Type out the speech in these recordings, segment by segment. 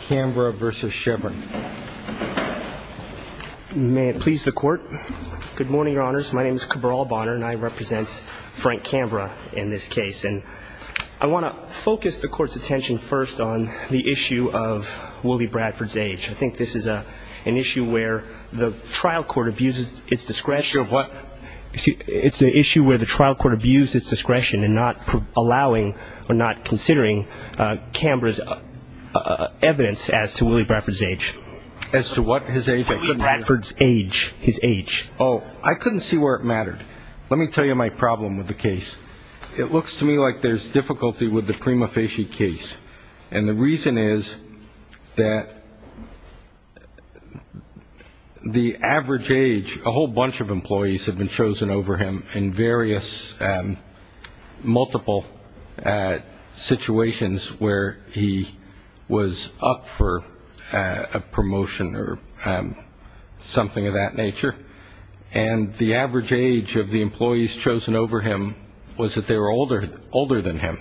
Canberra v. Chevron May it please the Court. Good morning, Your Honors. My name is Cabral Bonner and I represent Frank Canberra in this case. And I want to focus the Court's attention first on the issue of Wooley Bradford's age. I think this is an issue where the trial court abuses its discretion. Sure. What? It's an issue where the trial court abuses its discretion in not allowing or not considering Canberra's evidence as to Wooley Bradford's age. As to what his age? Wooley Bradford's age. His age. Oh, I couldn't see where it mattered. Let me tell you my problem with the case. It looks to me like there's difficulty with the Prima Facie case. And the reason is that the average age, a whole bunch of employees have been chosen over him in various multiple situations where he was up for a promotion or something of that nature. And the average age of the employees chosen over him was that they were older than him.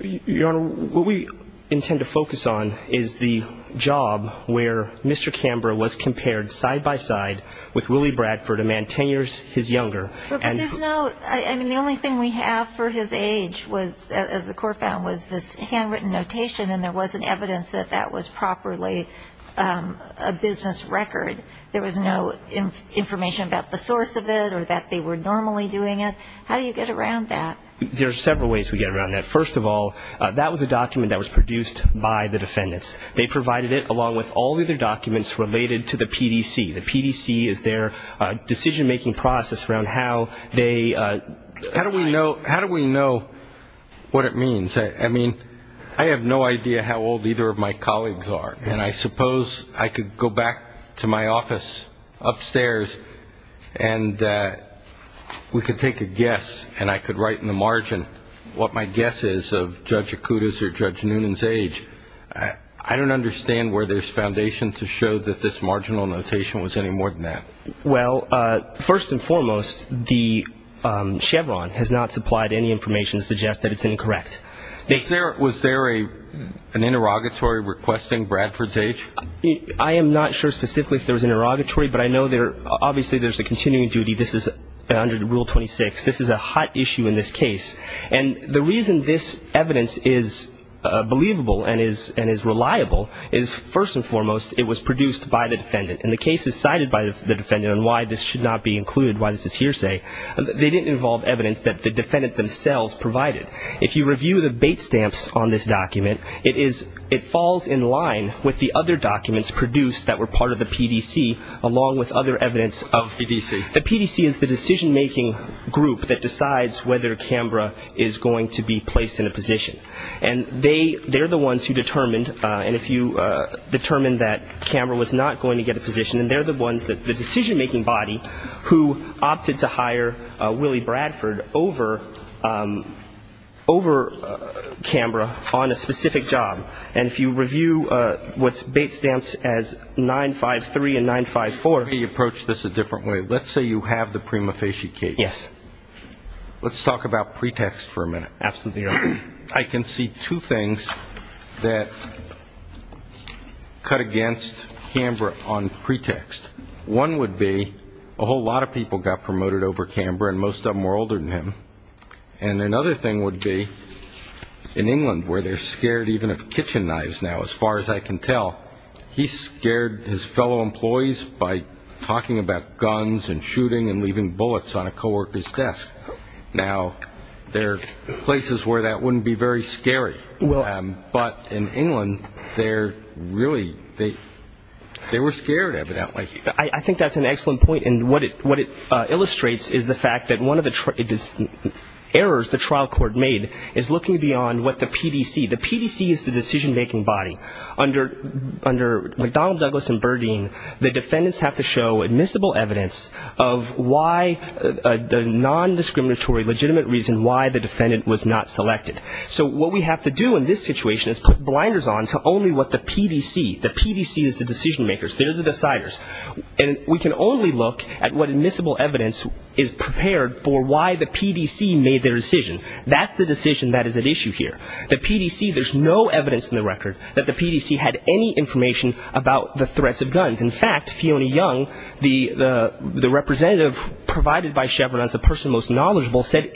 Your Honor, what we intend to focus on is the job where Mr. Canberra was compared side by side with Wooley Bradford, a man ten years his younger. But there's no, I mean, the only thing we have for his age was, as the Court found, was this handwritten notation and there wasn't evidence that that was properly a business record. There was no information about the source of it or that they were normally doing it. How do you get around that? There are several ways we get around that. First of all, that was a document that was produced by the defendants. They provided it along with all the other documents related to the PDC. The PDC is their decision-making process around how they assign How do we know what it means? I mean, I have no idea how old either of my colleagues are. And I suppose I could go back to my office upstairs and we could take a guess and I could write in the margin what my guess is of Judge Acuda's or Judge Noonan's age. I don't understand where there's foundation to show that this marginal notation was any more than that. Well, first and foremost, the Chevron has not supplied any information to suggest that it's incorrect. Was there an interrogatory requesting Bradford's age? I am not sure specifically if there was an interrogatory, but I know there obviously there's a continuing duty. This is under Rule 26. This is a hot issue in this case. And the reason this evidence is believable and is reliable is, first and foremost, it was produced by the defendant. And the cases cited by the defendant on why this should not be included, why this is hearsay, they didn't involve evidence that the defendant themselves provided. If you review the bait stamps on this document, it falls in line with the other documents produced that were part of the PDC along with other evidence of The PDC. The PDC is the decision-making group that decides whether Canberra is going to be placed in a position. And they're the ones who determined, and if you determined that Canberra was not going to get a position, then they're the ones, the decision-making body, who opted to hire Willie Bradford over Canberra on a specific job. And if you review what's bait stamped as 953 and 954 Let me approach this a different way. Let's say you have the Prima Facie case. Yes. Let's talk about pretext for a minute. Absolutely. I can see two things that cut against Canberra on pretext. One would be a whole lot of people got promoted over Canberra, and most of them were older than him. And another thing would be in England, where they're scared even of kitchen knives now, as far as I can tell, he scared his fellow employees by talking about guns and shooting and leaving bullets on a co-worker's desk. Now, there are places where that wouldn't be very scary. But in England, they're really, they were scared, evidently. I think that's an excellent point. And what it illustrates is the fact that one of the errors the trial court made is looking beyond what the PDC, the PDC is the decision-making body. Under McDonnell, Douglas, and Burdine, the defendants have to show admissible evidence of why the nondiscriminatory legitimate reason why the defendant was not selected. So what we have to do in this situation is put blinders on to only what the PDC, the PDC is the decision-makers. They're the deciders. And we can only look at what admissible evidence is prepared for why the PDC made their decision. That's the decision that is at issue here. The PDC, there's no evidence in the record that the PDC had any information about the threats of guns. In fact, Fiona Young, the representative provided by Chevron as the person most knowledgeable, said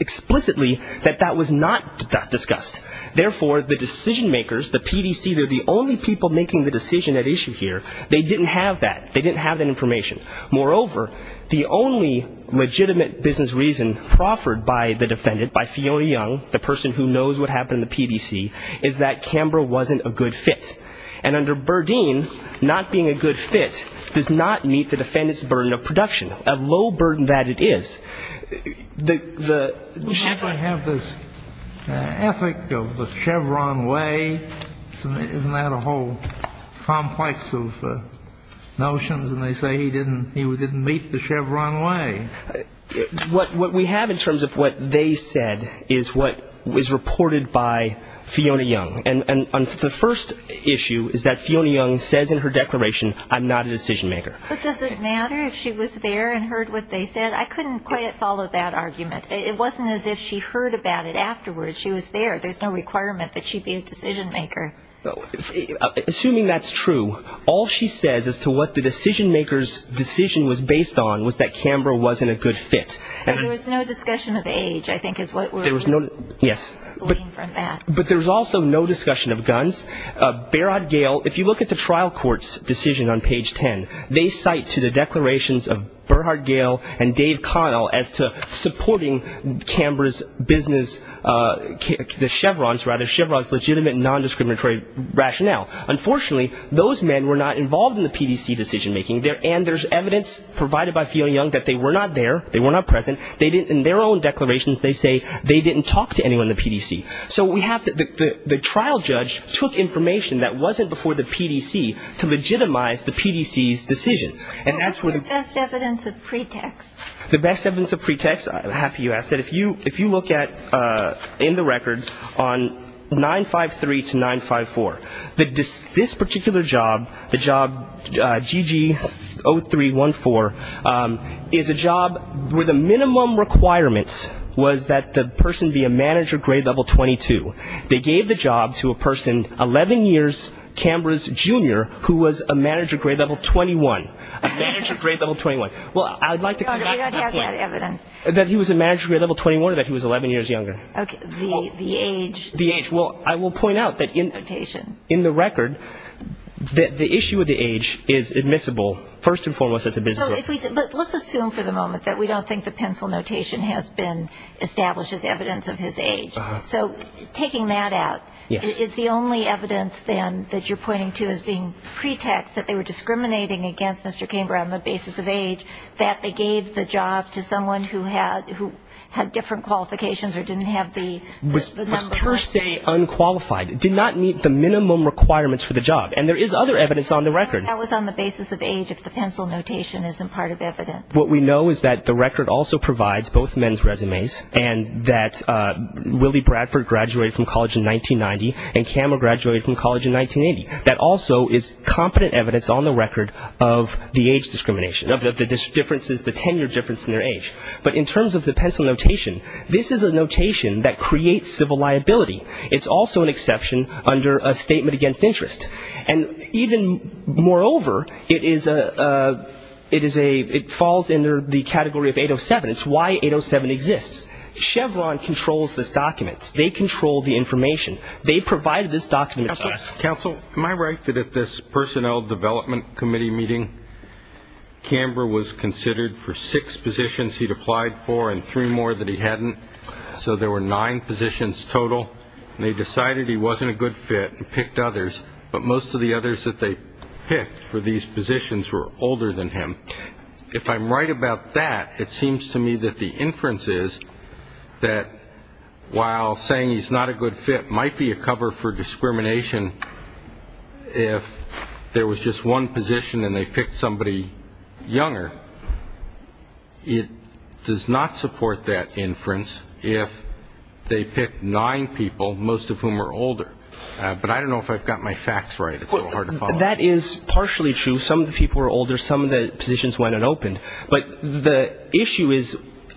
explicitly that that was not discussed. Therefore, the decision-makers, the PDC, they're the only people making the decision at issue here. They didn't have that. They didn't have that information. Moreover, the only legitimate business reason proffered by the defendant, by Fiona Young, the person who knows what happened in the PDC, is that Canberra wasn't a good fit. And under Burdine, not being a good fit does not meet the defendant's burden of production, a low burden that it is. The Chevron way, isn't that a whole complex of notions? And they say he didn't, he didn't meet the Chevron way. What we have in terms of what they said is what was reported by Fiona Young. And the first issue is that Fiona Young says in her declaration, I'm not a decision-maker. But does it matter if she was there and heard what they said? I couldn't quite follow that argument. It wasn't as if she heard about it afterwards. She was there. There's no requirement that she be a decision-maker. Assuming that's true, all she says as to what the decision-maker's decision was based on was that Canberra wasn't a good fit. And there was no discussion of age, I think, is what we're... There was no, yes. ...looking from that. But there was also no discussion of guns. Berhard Gale, if you look at the trial court's decision on page 10, they cite to the declarations of Berhard Gale and Dave Connell as to supporting Canberra's business, the Chevron's rather, Chevron's legitimate non-discriminatory rationale. Unfortunately, those men were not involved in the PDC decision-making. And there's evidence provided by Fiona Young that they were not there, they were not present. In their own declarations, they say they didn't talk to anyone in the PDC. So we have the trial judge took information that wasn't before the PDC to legitimize the PDC's decision. What's the best evidence of pretext? The best evidence of pretext, I'm happy you asked that. If you look at, in the record, on 953 to 954, this particular job, the job GG0314, is a job where the minimum requirements was that the person be a manager grade level 22. They gave the job to a person 11 years Canberra's junior who was a manager grade level 21. A manager grade level 21. Well, I'd like to correct that point. We don't have that evidence. That he was a manager grade level 21 or that he was 11 years younger. Okay. The age. The age. Well, I will point out that in the record, that the issue of the age is admissible first and foremost as a business. But let's assume for the moment that we don't think the pencil notation has been established as evidence of his age. So taking that out, is the only evidence then that you're pointing to as being pretext that they were discriminating against Mr. Canberra on the basis of age, that they gave the job to someone who had different qualifications or didn't have the number. Was per se unqualified. Did not meet the minimum requirements for the job. And there is other evidence on the record. That was on the basis of age if the pencil notation isn't part of evidence. What we know is that the record also provides both men's resumes and that Willie Bradford graduated from college in 1990 and Cameron graduated from college in 1980. That also is competent evidence on the record of the age discrimination. Of the differences, the tenure difference in their age. But in terms of the pencil notation, this is a notation that creates civil liability. It's also an exception under a statement against interest. And even moreover, it is a, it is a, it falls under the category of 807. It's why 807 exists. Chevron controls this document. They control the information. They provided this document to us. Counsel, am I right that at this personnel development committee meeting, Canberra was considered for six positions he'd applied for and three more that he hadn't. So there were nine positions total. And they decided he wasn't a good fit and picked others. But most of the others that they picked for these positions were older than him. If I'm right about that, it seems to me that the inference is that while saying he's not a good fit might be a cover for discrimination, if there was just one position and they picked somebody younger, it does not support that inference if they pick nine people, most of whom are older. But I don't know if I've got my facts right. That is partially true. Some of the people were older. Some of the positions went unopened. But the issue is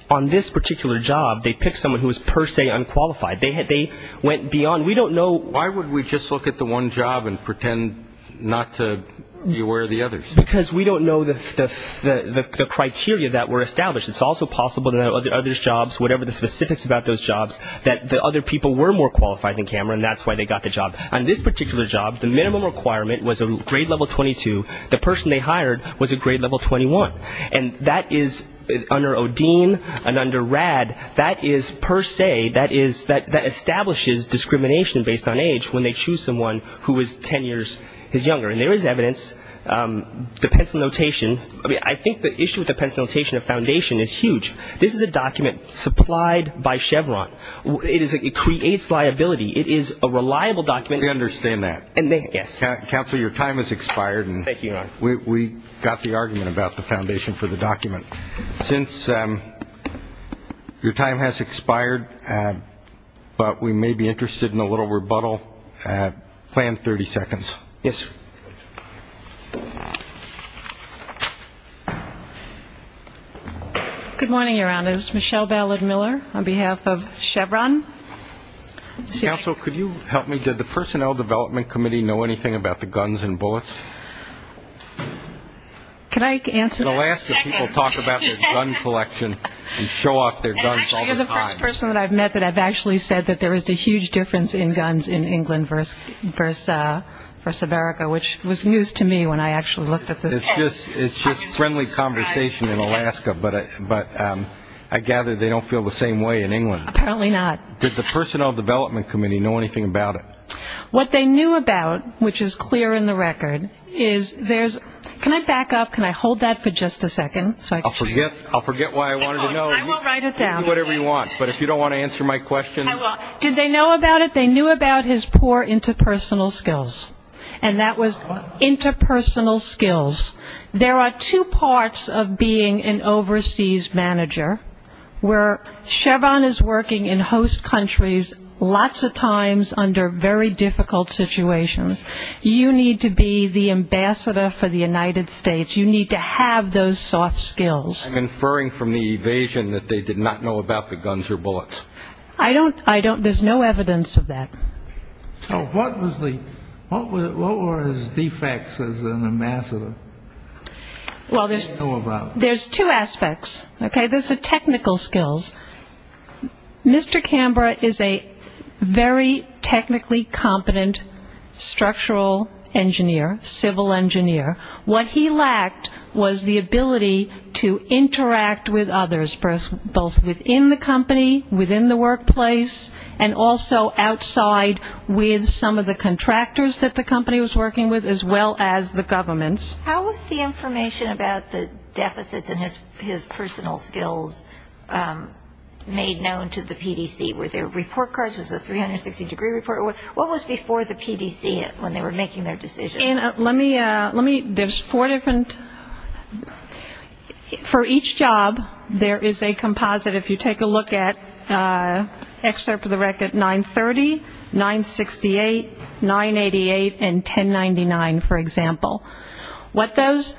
on this particular job, they picked someone who was per se unqualified. They went beyond. We don't know. Why would we just look at the one job and pretend not to be aware of the others? Because we don't know the criteria that were established. It's also possible that other jobs, whatever the specifics about those jobs, that the other people were more qualified than Cameron and that's why they got the job. On this particular job, the minimum requirement was a grade level 22. The person they hired was a grade level 21. And that is under Odeen and under RAD, that is per se, that establishes discrimination based on age when they choose someone who is ten years his younger. And there is evidence, depends on notation. I think the issue depends on notation of foundation is huge. This is a document supplied by Chevron. It creates liability. It is a reliable document. We understand that. Yes. Counsel, your time has expired. Thank you, Your Honor. We got the argument about the foundation for the document. Since your time has expired, but we may be interested in a little rebuttal, plan 30 seconds. Yes, sir. Good morning, Your Honors. Michelle Ballard Miller on behalf of Chevron. Counsel, could you help me? Did the Personnel Development Committee know anything about the guns and bullets? Can I answer that? In Alaska, people talk about their gun collection and show off their guns all the time. Actually, you're the first person that I've met that I've actually said that there is a huge difference in guns in England versus America, which was news to me when I actually looked at this. It's just friendly conversation in Alaska, but I gather they don't feel the same way in England. Apparently not. Did the Personnel Development Committee know anything about it? What they knew about, which is clear in the record, is there's – can I back up? Can I hold that for just a second? I'll forget why I wanted to know. I will write it down. You can do whatever you want, but if you don't want to answer my question. I will. Did they know about it? And that was interpersonal skills. There are two parts of being an overseas manager where Chevron is working in host countries lots of times under very difficult situations. You need to be the ambassador for the United States. You need to have those soft skills. I'm inferring from the evasion that they did not know about the guns or bullets. I don't – there's no evidence of that. So what was the – what were his defects as an ambassador? Well, there's two aspects. Okay? There's the technical skills. Mr. Cambra is a very technically competent structural engineer, civil engineer. What he lacked was the ability to interact with others, both within the company, within the workplace, and also outside with some of the contractors that the company was working with as well as the governments. How was the information about the deficits and his personal skills made known to the PDC? Were there report cards? Was it a 360-degree report? What was before the PDC when they were making their decision? Let me – there's four different – for each job, there is a composite. If you take a look at excerpt of the record, 930, 968, 988, and 1099, for example. What those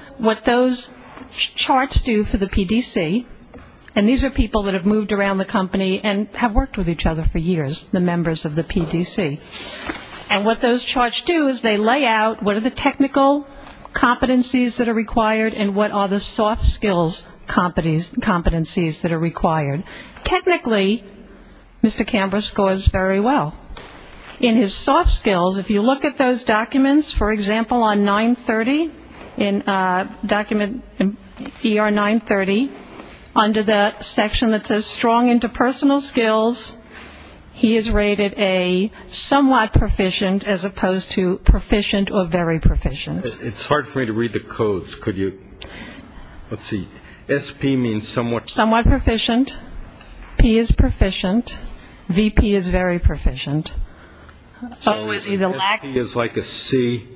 charts do for the PDC – and these are people that have moved around the company and have worked with each other for years, the members of the PDC. And what those charts do is they lay out what are the technical competencies that are required and what are the soft skills competencies that are required. Technically, Mr. Cambra scores very well. In his soft skills, if you look at those documents, for example, on 930, document ER930, under the section that says strong interpersonal skills, he is rated a somewhat proficient as opposed to proficient or very proficient. It's hard for me to read the codes. Could you – let's see. SP means somewhat. Somewhat proficient. P is proficient. VP is very proficient. So SP is like a C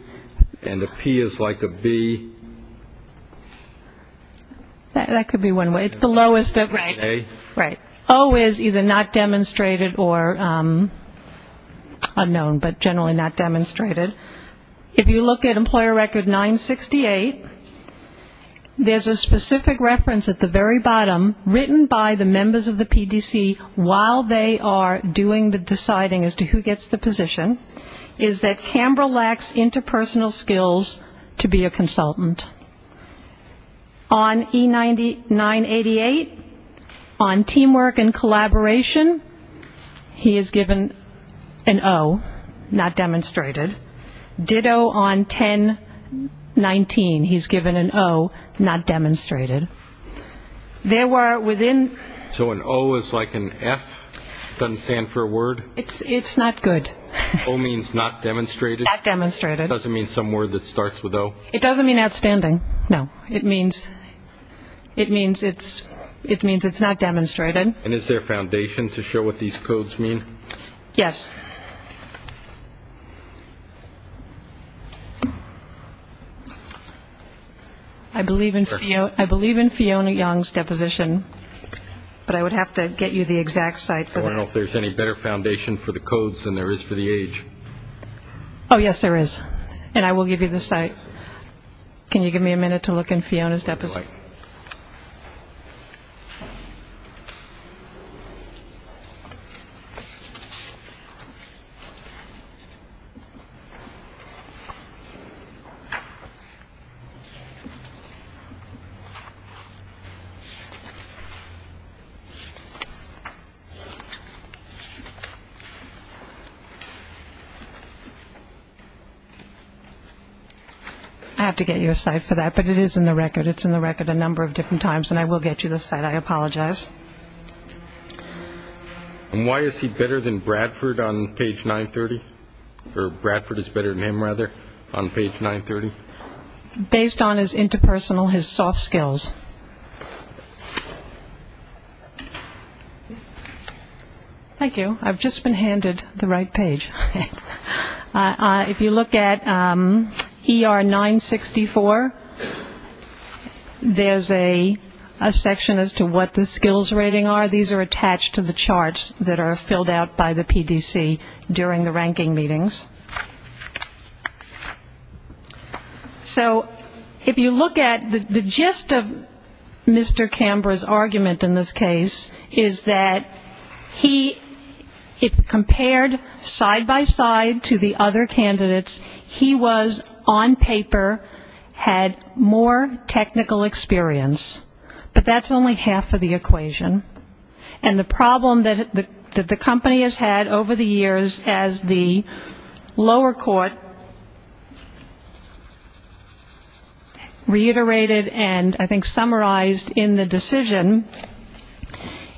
and a P is like a B. That could be one way. It's the lowest of – right. A. Right. O is either not demonstrated or unknown, but generally not demonstrated. If you look at employer record 968, there's a specific reference at the very bottom written by the members of the PDC while they are doing the deciding as to who gets the position, is that Cambra lacks interpersonal skills to be a consultant. On E9988, on teamwork and collaboration, he is given an O, not demonstrated. Ditto on 1019, he's given an O, not demonstrated. There were within – So an O is like an F? It doesn't stand for a word? It's not good. O means not demonstrated? Not demonstrated. It doesn't mean some word that starts with O? It doesn't mean outstanding, no. It means it's not demonstrated. And is there foundation to show what these codes mean? Yes. I believe in Fiona Young's deposition, but I would have to get you the exact site. I don't know if there's any better foundation for the codes than there is for the age. Oh, yes, there is, and I will give you the site. Can you give me a minute to look in Fiona's deposition? I have to get you a site for that, but it is in the record. It's in the record a number of different times, and I will get you the site. I apologize. And why is he better than Bradford on page 930? Or Bradford is better than him, rather, on page 930? Based on his interpersonal, his soft skills. Thank you. I've just been handed the right page. If you look at ER 964, there's a section as to what the skills rating are. These are attached to the charts that are filled out by the PDC during the ranking meetings. So if you look at the gist of Mr. Camber's argument in this case, is that he, if compared side by side to the other candidates, he was on paper, had more technical experience, but that's only half of the equation. And the problem that the company has had over the years as the lower court reiterated and I think summarized in the decision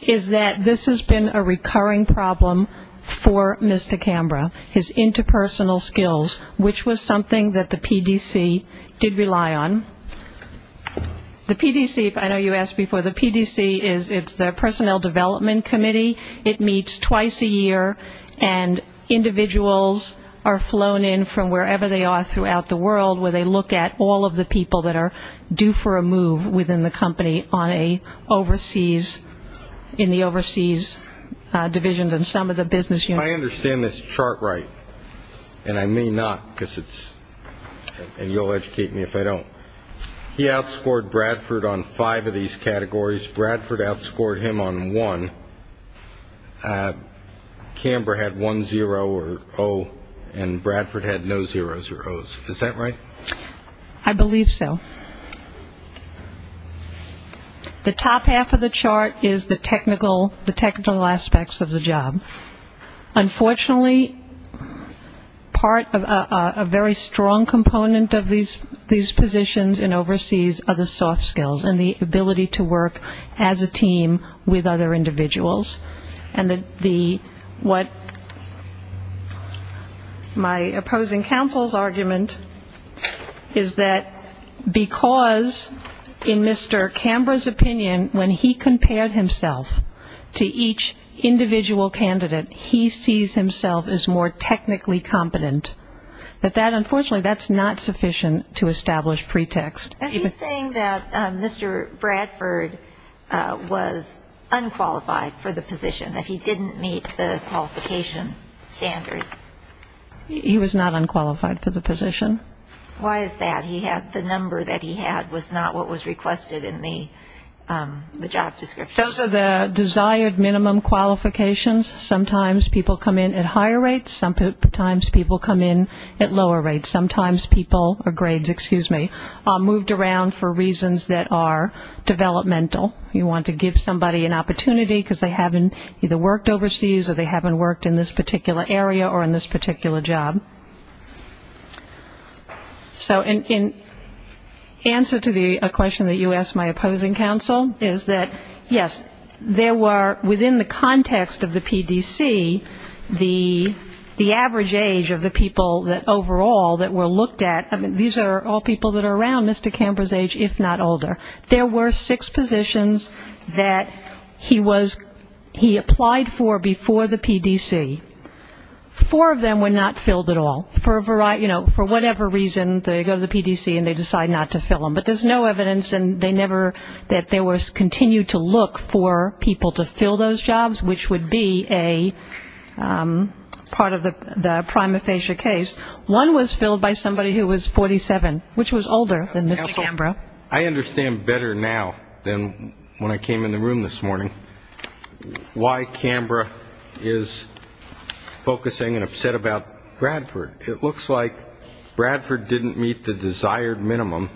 is that this has been a recurring problem for Mr. Camber, his interpersonal skills, which was something that the PDC did rely on. The PDC, I know you asked before, the PDC is the personnel development committee. It meets twice a year, and individuals are flown in from wherever they are throughout the world, where they look at all of the people that are due for a move within the company on an overseas, in the overseas divisions and some of the business units. I understand this chart right, and I may not, because it's, and you'll educate me if I don't. He outscored Bradford on five of these categories. Bradford outscored him on one. Camber had one zero or O, and Bradford had no zeros or Os. Is that right? I believe so. The top half of the chart is the technical aspects of the job. Unfortunately, part of a very strong component of these positions in overseas are the soft skills and the ability to work as a team with other individuals. And what my opposing counsel's argument is that because in Mr. Camber's opinion, when he compared himself to each individual candidate, he sees himself as more technically competent. But that, unfortunately, that's not sufficient to establish pretext. Are you saying that Mr. Bradford was unqualified for the position, that he didn't meet the qualification standard? He was not unqualified for the position. Why is that? The number that he had was not what was requested in the job description. Those are the desired minimum qualifications. Sometimes people come in at higher rates. Sometimes people come in at lower rates. Sometimes people, or grades, excuse me, are moved around for reasons that are developmental. You want to give somebody an opportunity because they haven't either worked overseas or they haven't worked in this particular area or in this particular job. So in answer to a question that you asked my opposing counsel is that, yes, there were within the context of the PDC the average age of the people that overall that were looked at. I mean, these are all people that are around Mr. Camber's age, if not older. There were six positions that he applied for before the PDC. Four of them were not filled at all. For whatever reason, they go to the PDC and they decide not to fill them. But there's no evidence and they never, that there was continued to look for people to fill those jobs, which would be a part of the prima facie case. One was filled by somebody who was 47, which was older than Mr. Camber. I understand better now than when I came in the room this morning why Camber is focusing and upset about Bradford. It looks like Bradford didn't meet the desired minimum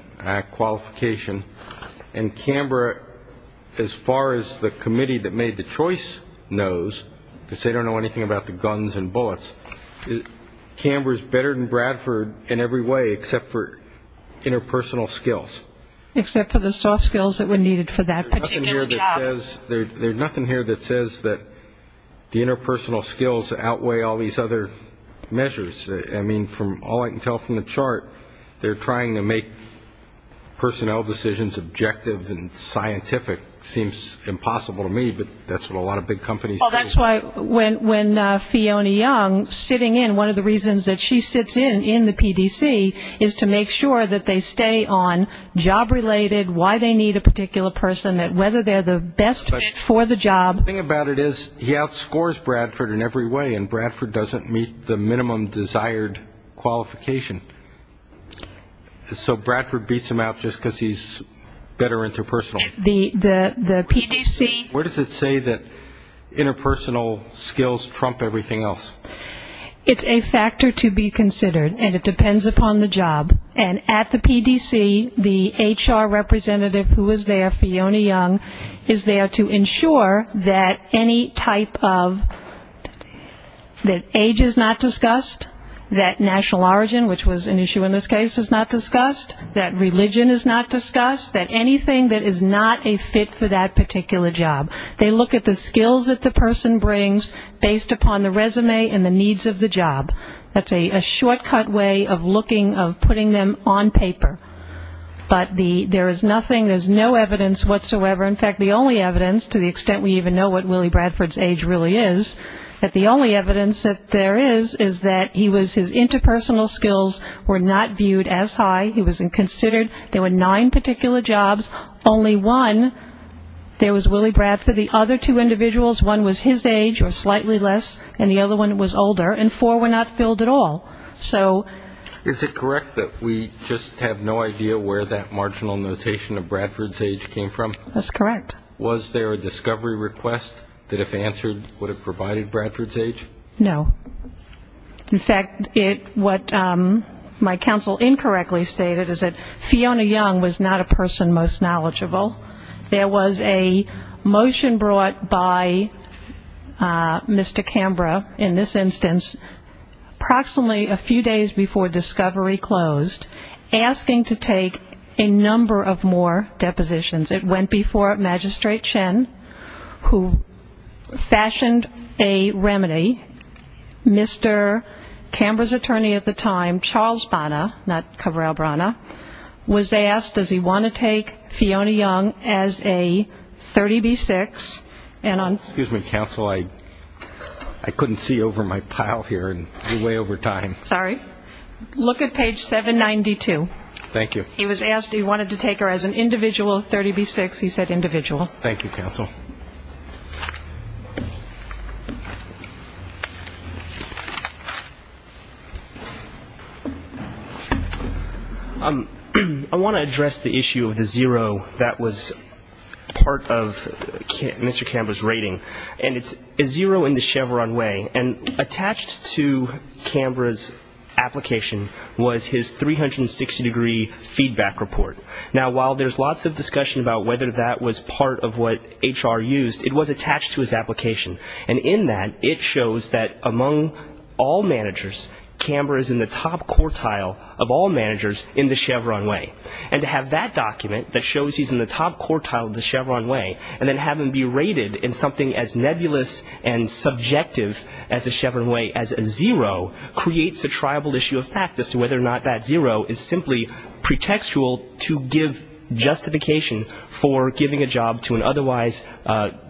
qualification. And Camber, as far as the committee that made the choice knows, because they don't know anything about the guns and bullets, Camber is better than Bradford in every way except for interpersonal skills. Except for the soft skills that were needed for that particular job. There's nothing here that says that the interpersonal skills outweigh all these other measures. I mean, from all I can tell from the chart, they're trying to make personnel decisions objective and scientific. It seems impossible to me, but that's what a lot of big companies do. Well, that's why when Fiona Young sitting in, one of the reasons that she sits in in the PDC, is to make sure that they stay on job-related, why they need a particular person, that whether they're the best fit for the job. The thing about it is he outscores Bradford in every way, and Bradford doesn't meet the minimum desired qualification. So Bradford beats him out just because he's better interpersonal. The PDC. Where does it say that interpersonal skills trump everything else? It's a factor to be considered, and it depends upon the job. And at the PDC, the HR representative who is there, Fiona Young, is there to ensure that any type of, that age is not discussed, that national origin, which was an issue in this case, is not discussed, that religion is not discussed, that anything that is not a fit for that particular job. They look at the skills that the person brings based upon the resume and the needs of the job. That's a shortcut way of looking, of putting them on paper. But there is nothing, there's no evidence whatsoever. In fact, the only evidence, to the extent we even know what Willie Bradford's age really is, that the only evidence that there is is that he was, his interpersonal skills were not viewed as high. He was inconsidered. There were nine particular jobs. Only one, there was Willie Bradford. The other two individuals, one was his age or slightly less, and the other one was older. And four were not filled at all. So... Is it correct that we just have no idea where that marginal notation of Bradford's age came from? That's correct. Was there a discovery request that if answered would have provided Bradford's age? No. In fact, what my counsel incorrectly stated is that Fiona Young was not a person most knowledgeable. There was a motion brought by Mr. Cambra, in this instance, approximately a few days before discovery closed, asking to take a number of more depositions. It went before Magistrate Chen, who fashioned a remedy. Mr. Cambra's attorney at the time, Charles Bonner, not Cabral Brana, was asked, does he want to take Fiona Young as a 30B6 and on... Excuse me, counsel, I couldn't see over my pile here. You're way over time. Sorry. Look at page 792. Thank you. He was asked if he wanted to take her as an individual 30B6. He said individual. Thank you, counsel. I want to address the issue of the zero that was part of Mr. Cambra's rating. And it's a zero in the Chevron way. Attached to Cambra's application was his 360-degree feedback report. Now, while there's lots of discussion about whether that was part of what HR used, it was attached to his application. And in that, it shows that among all managers, Cambra is in the top quartile of all managers in the Chevron way. And to have that document that shows he's in the top quartile of the Chevron way and then have him be rated in something as nebulous and subjective as the Chevron way as a zero, creates a triable issue of fact as to whether or not that zero is simply pretextual to give justification for giving a job to an otherwise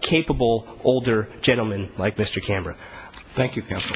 capable older gentleman like Mr. Cambra. Thank you, counsel. Thank you, counsel.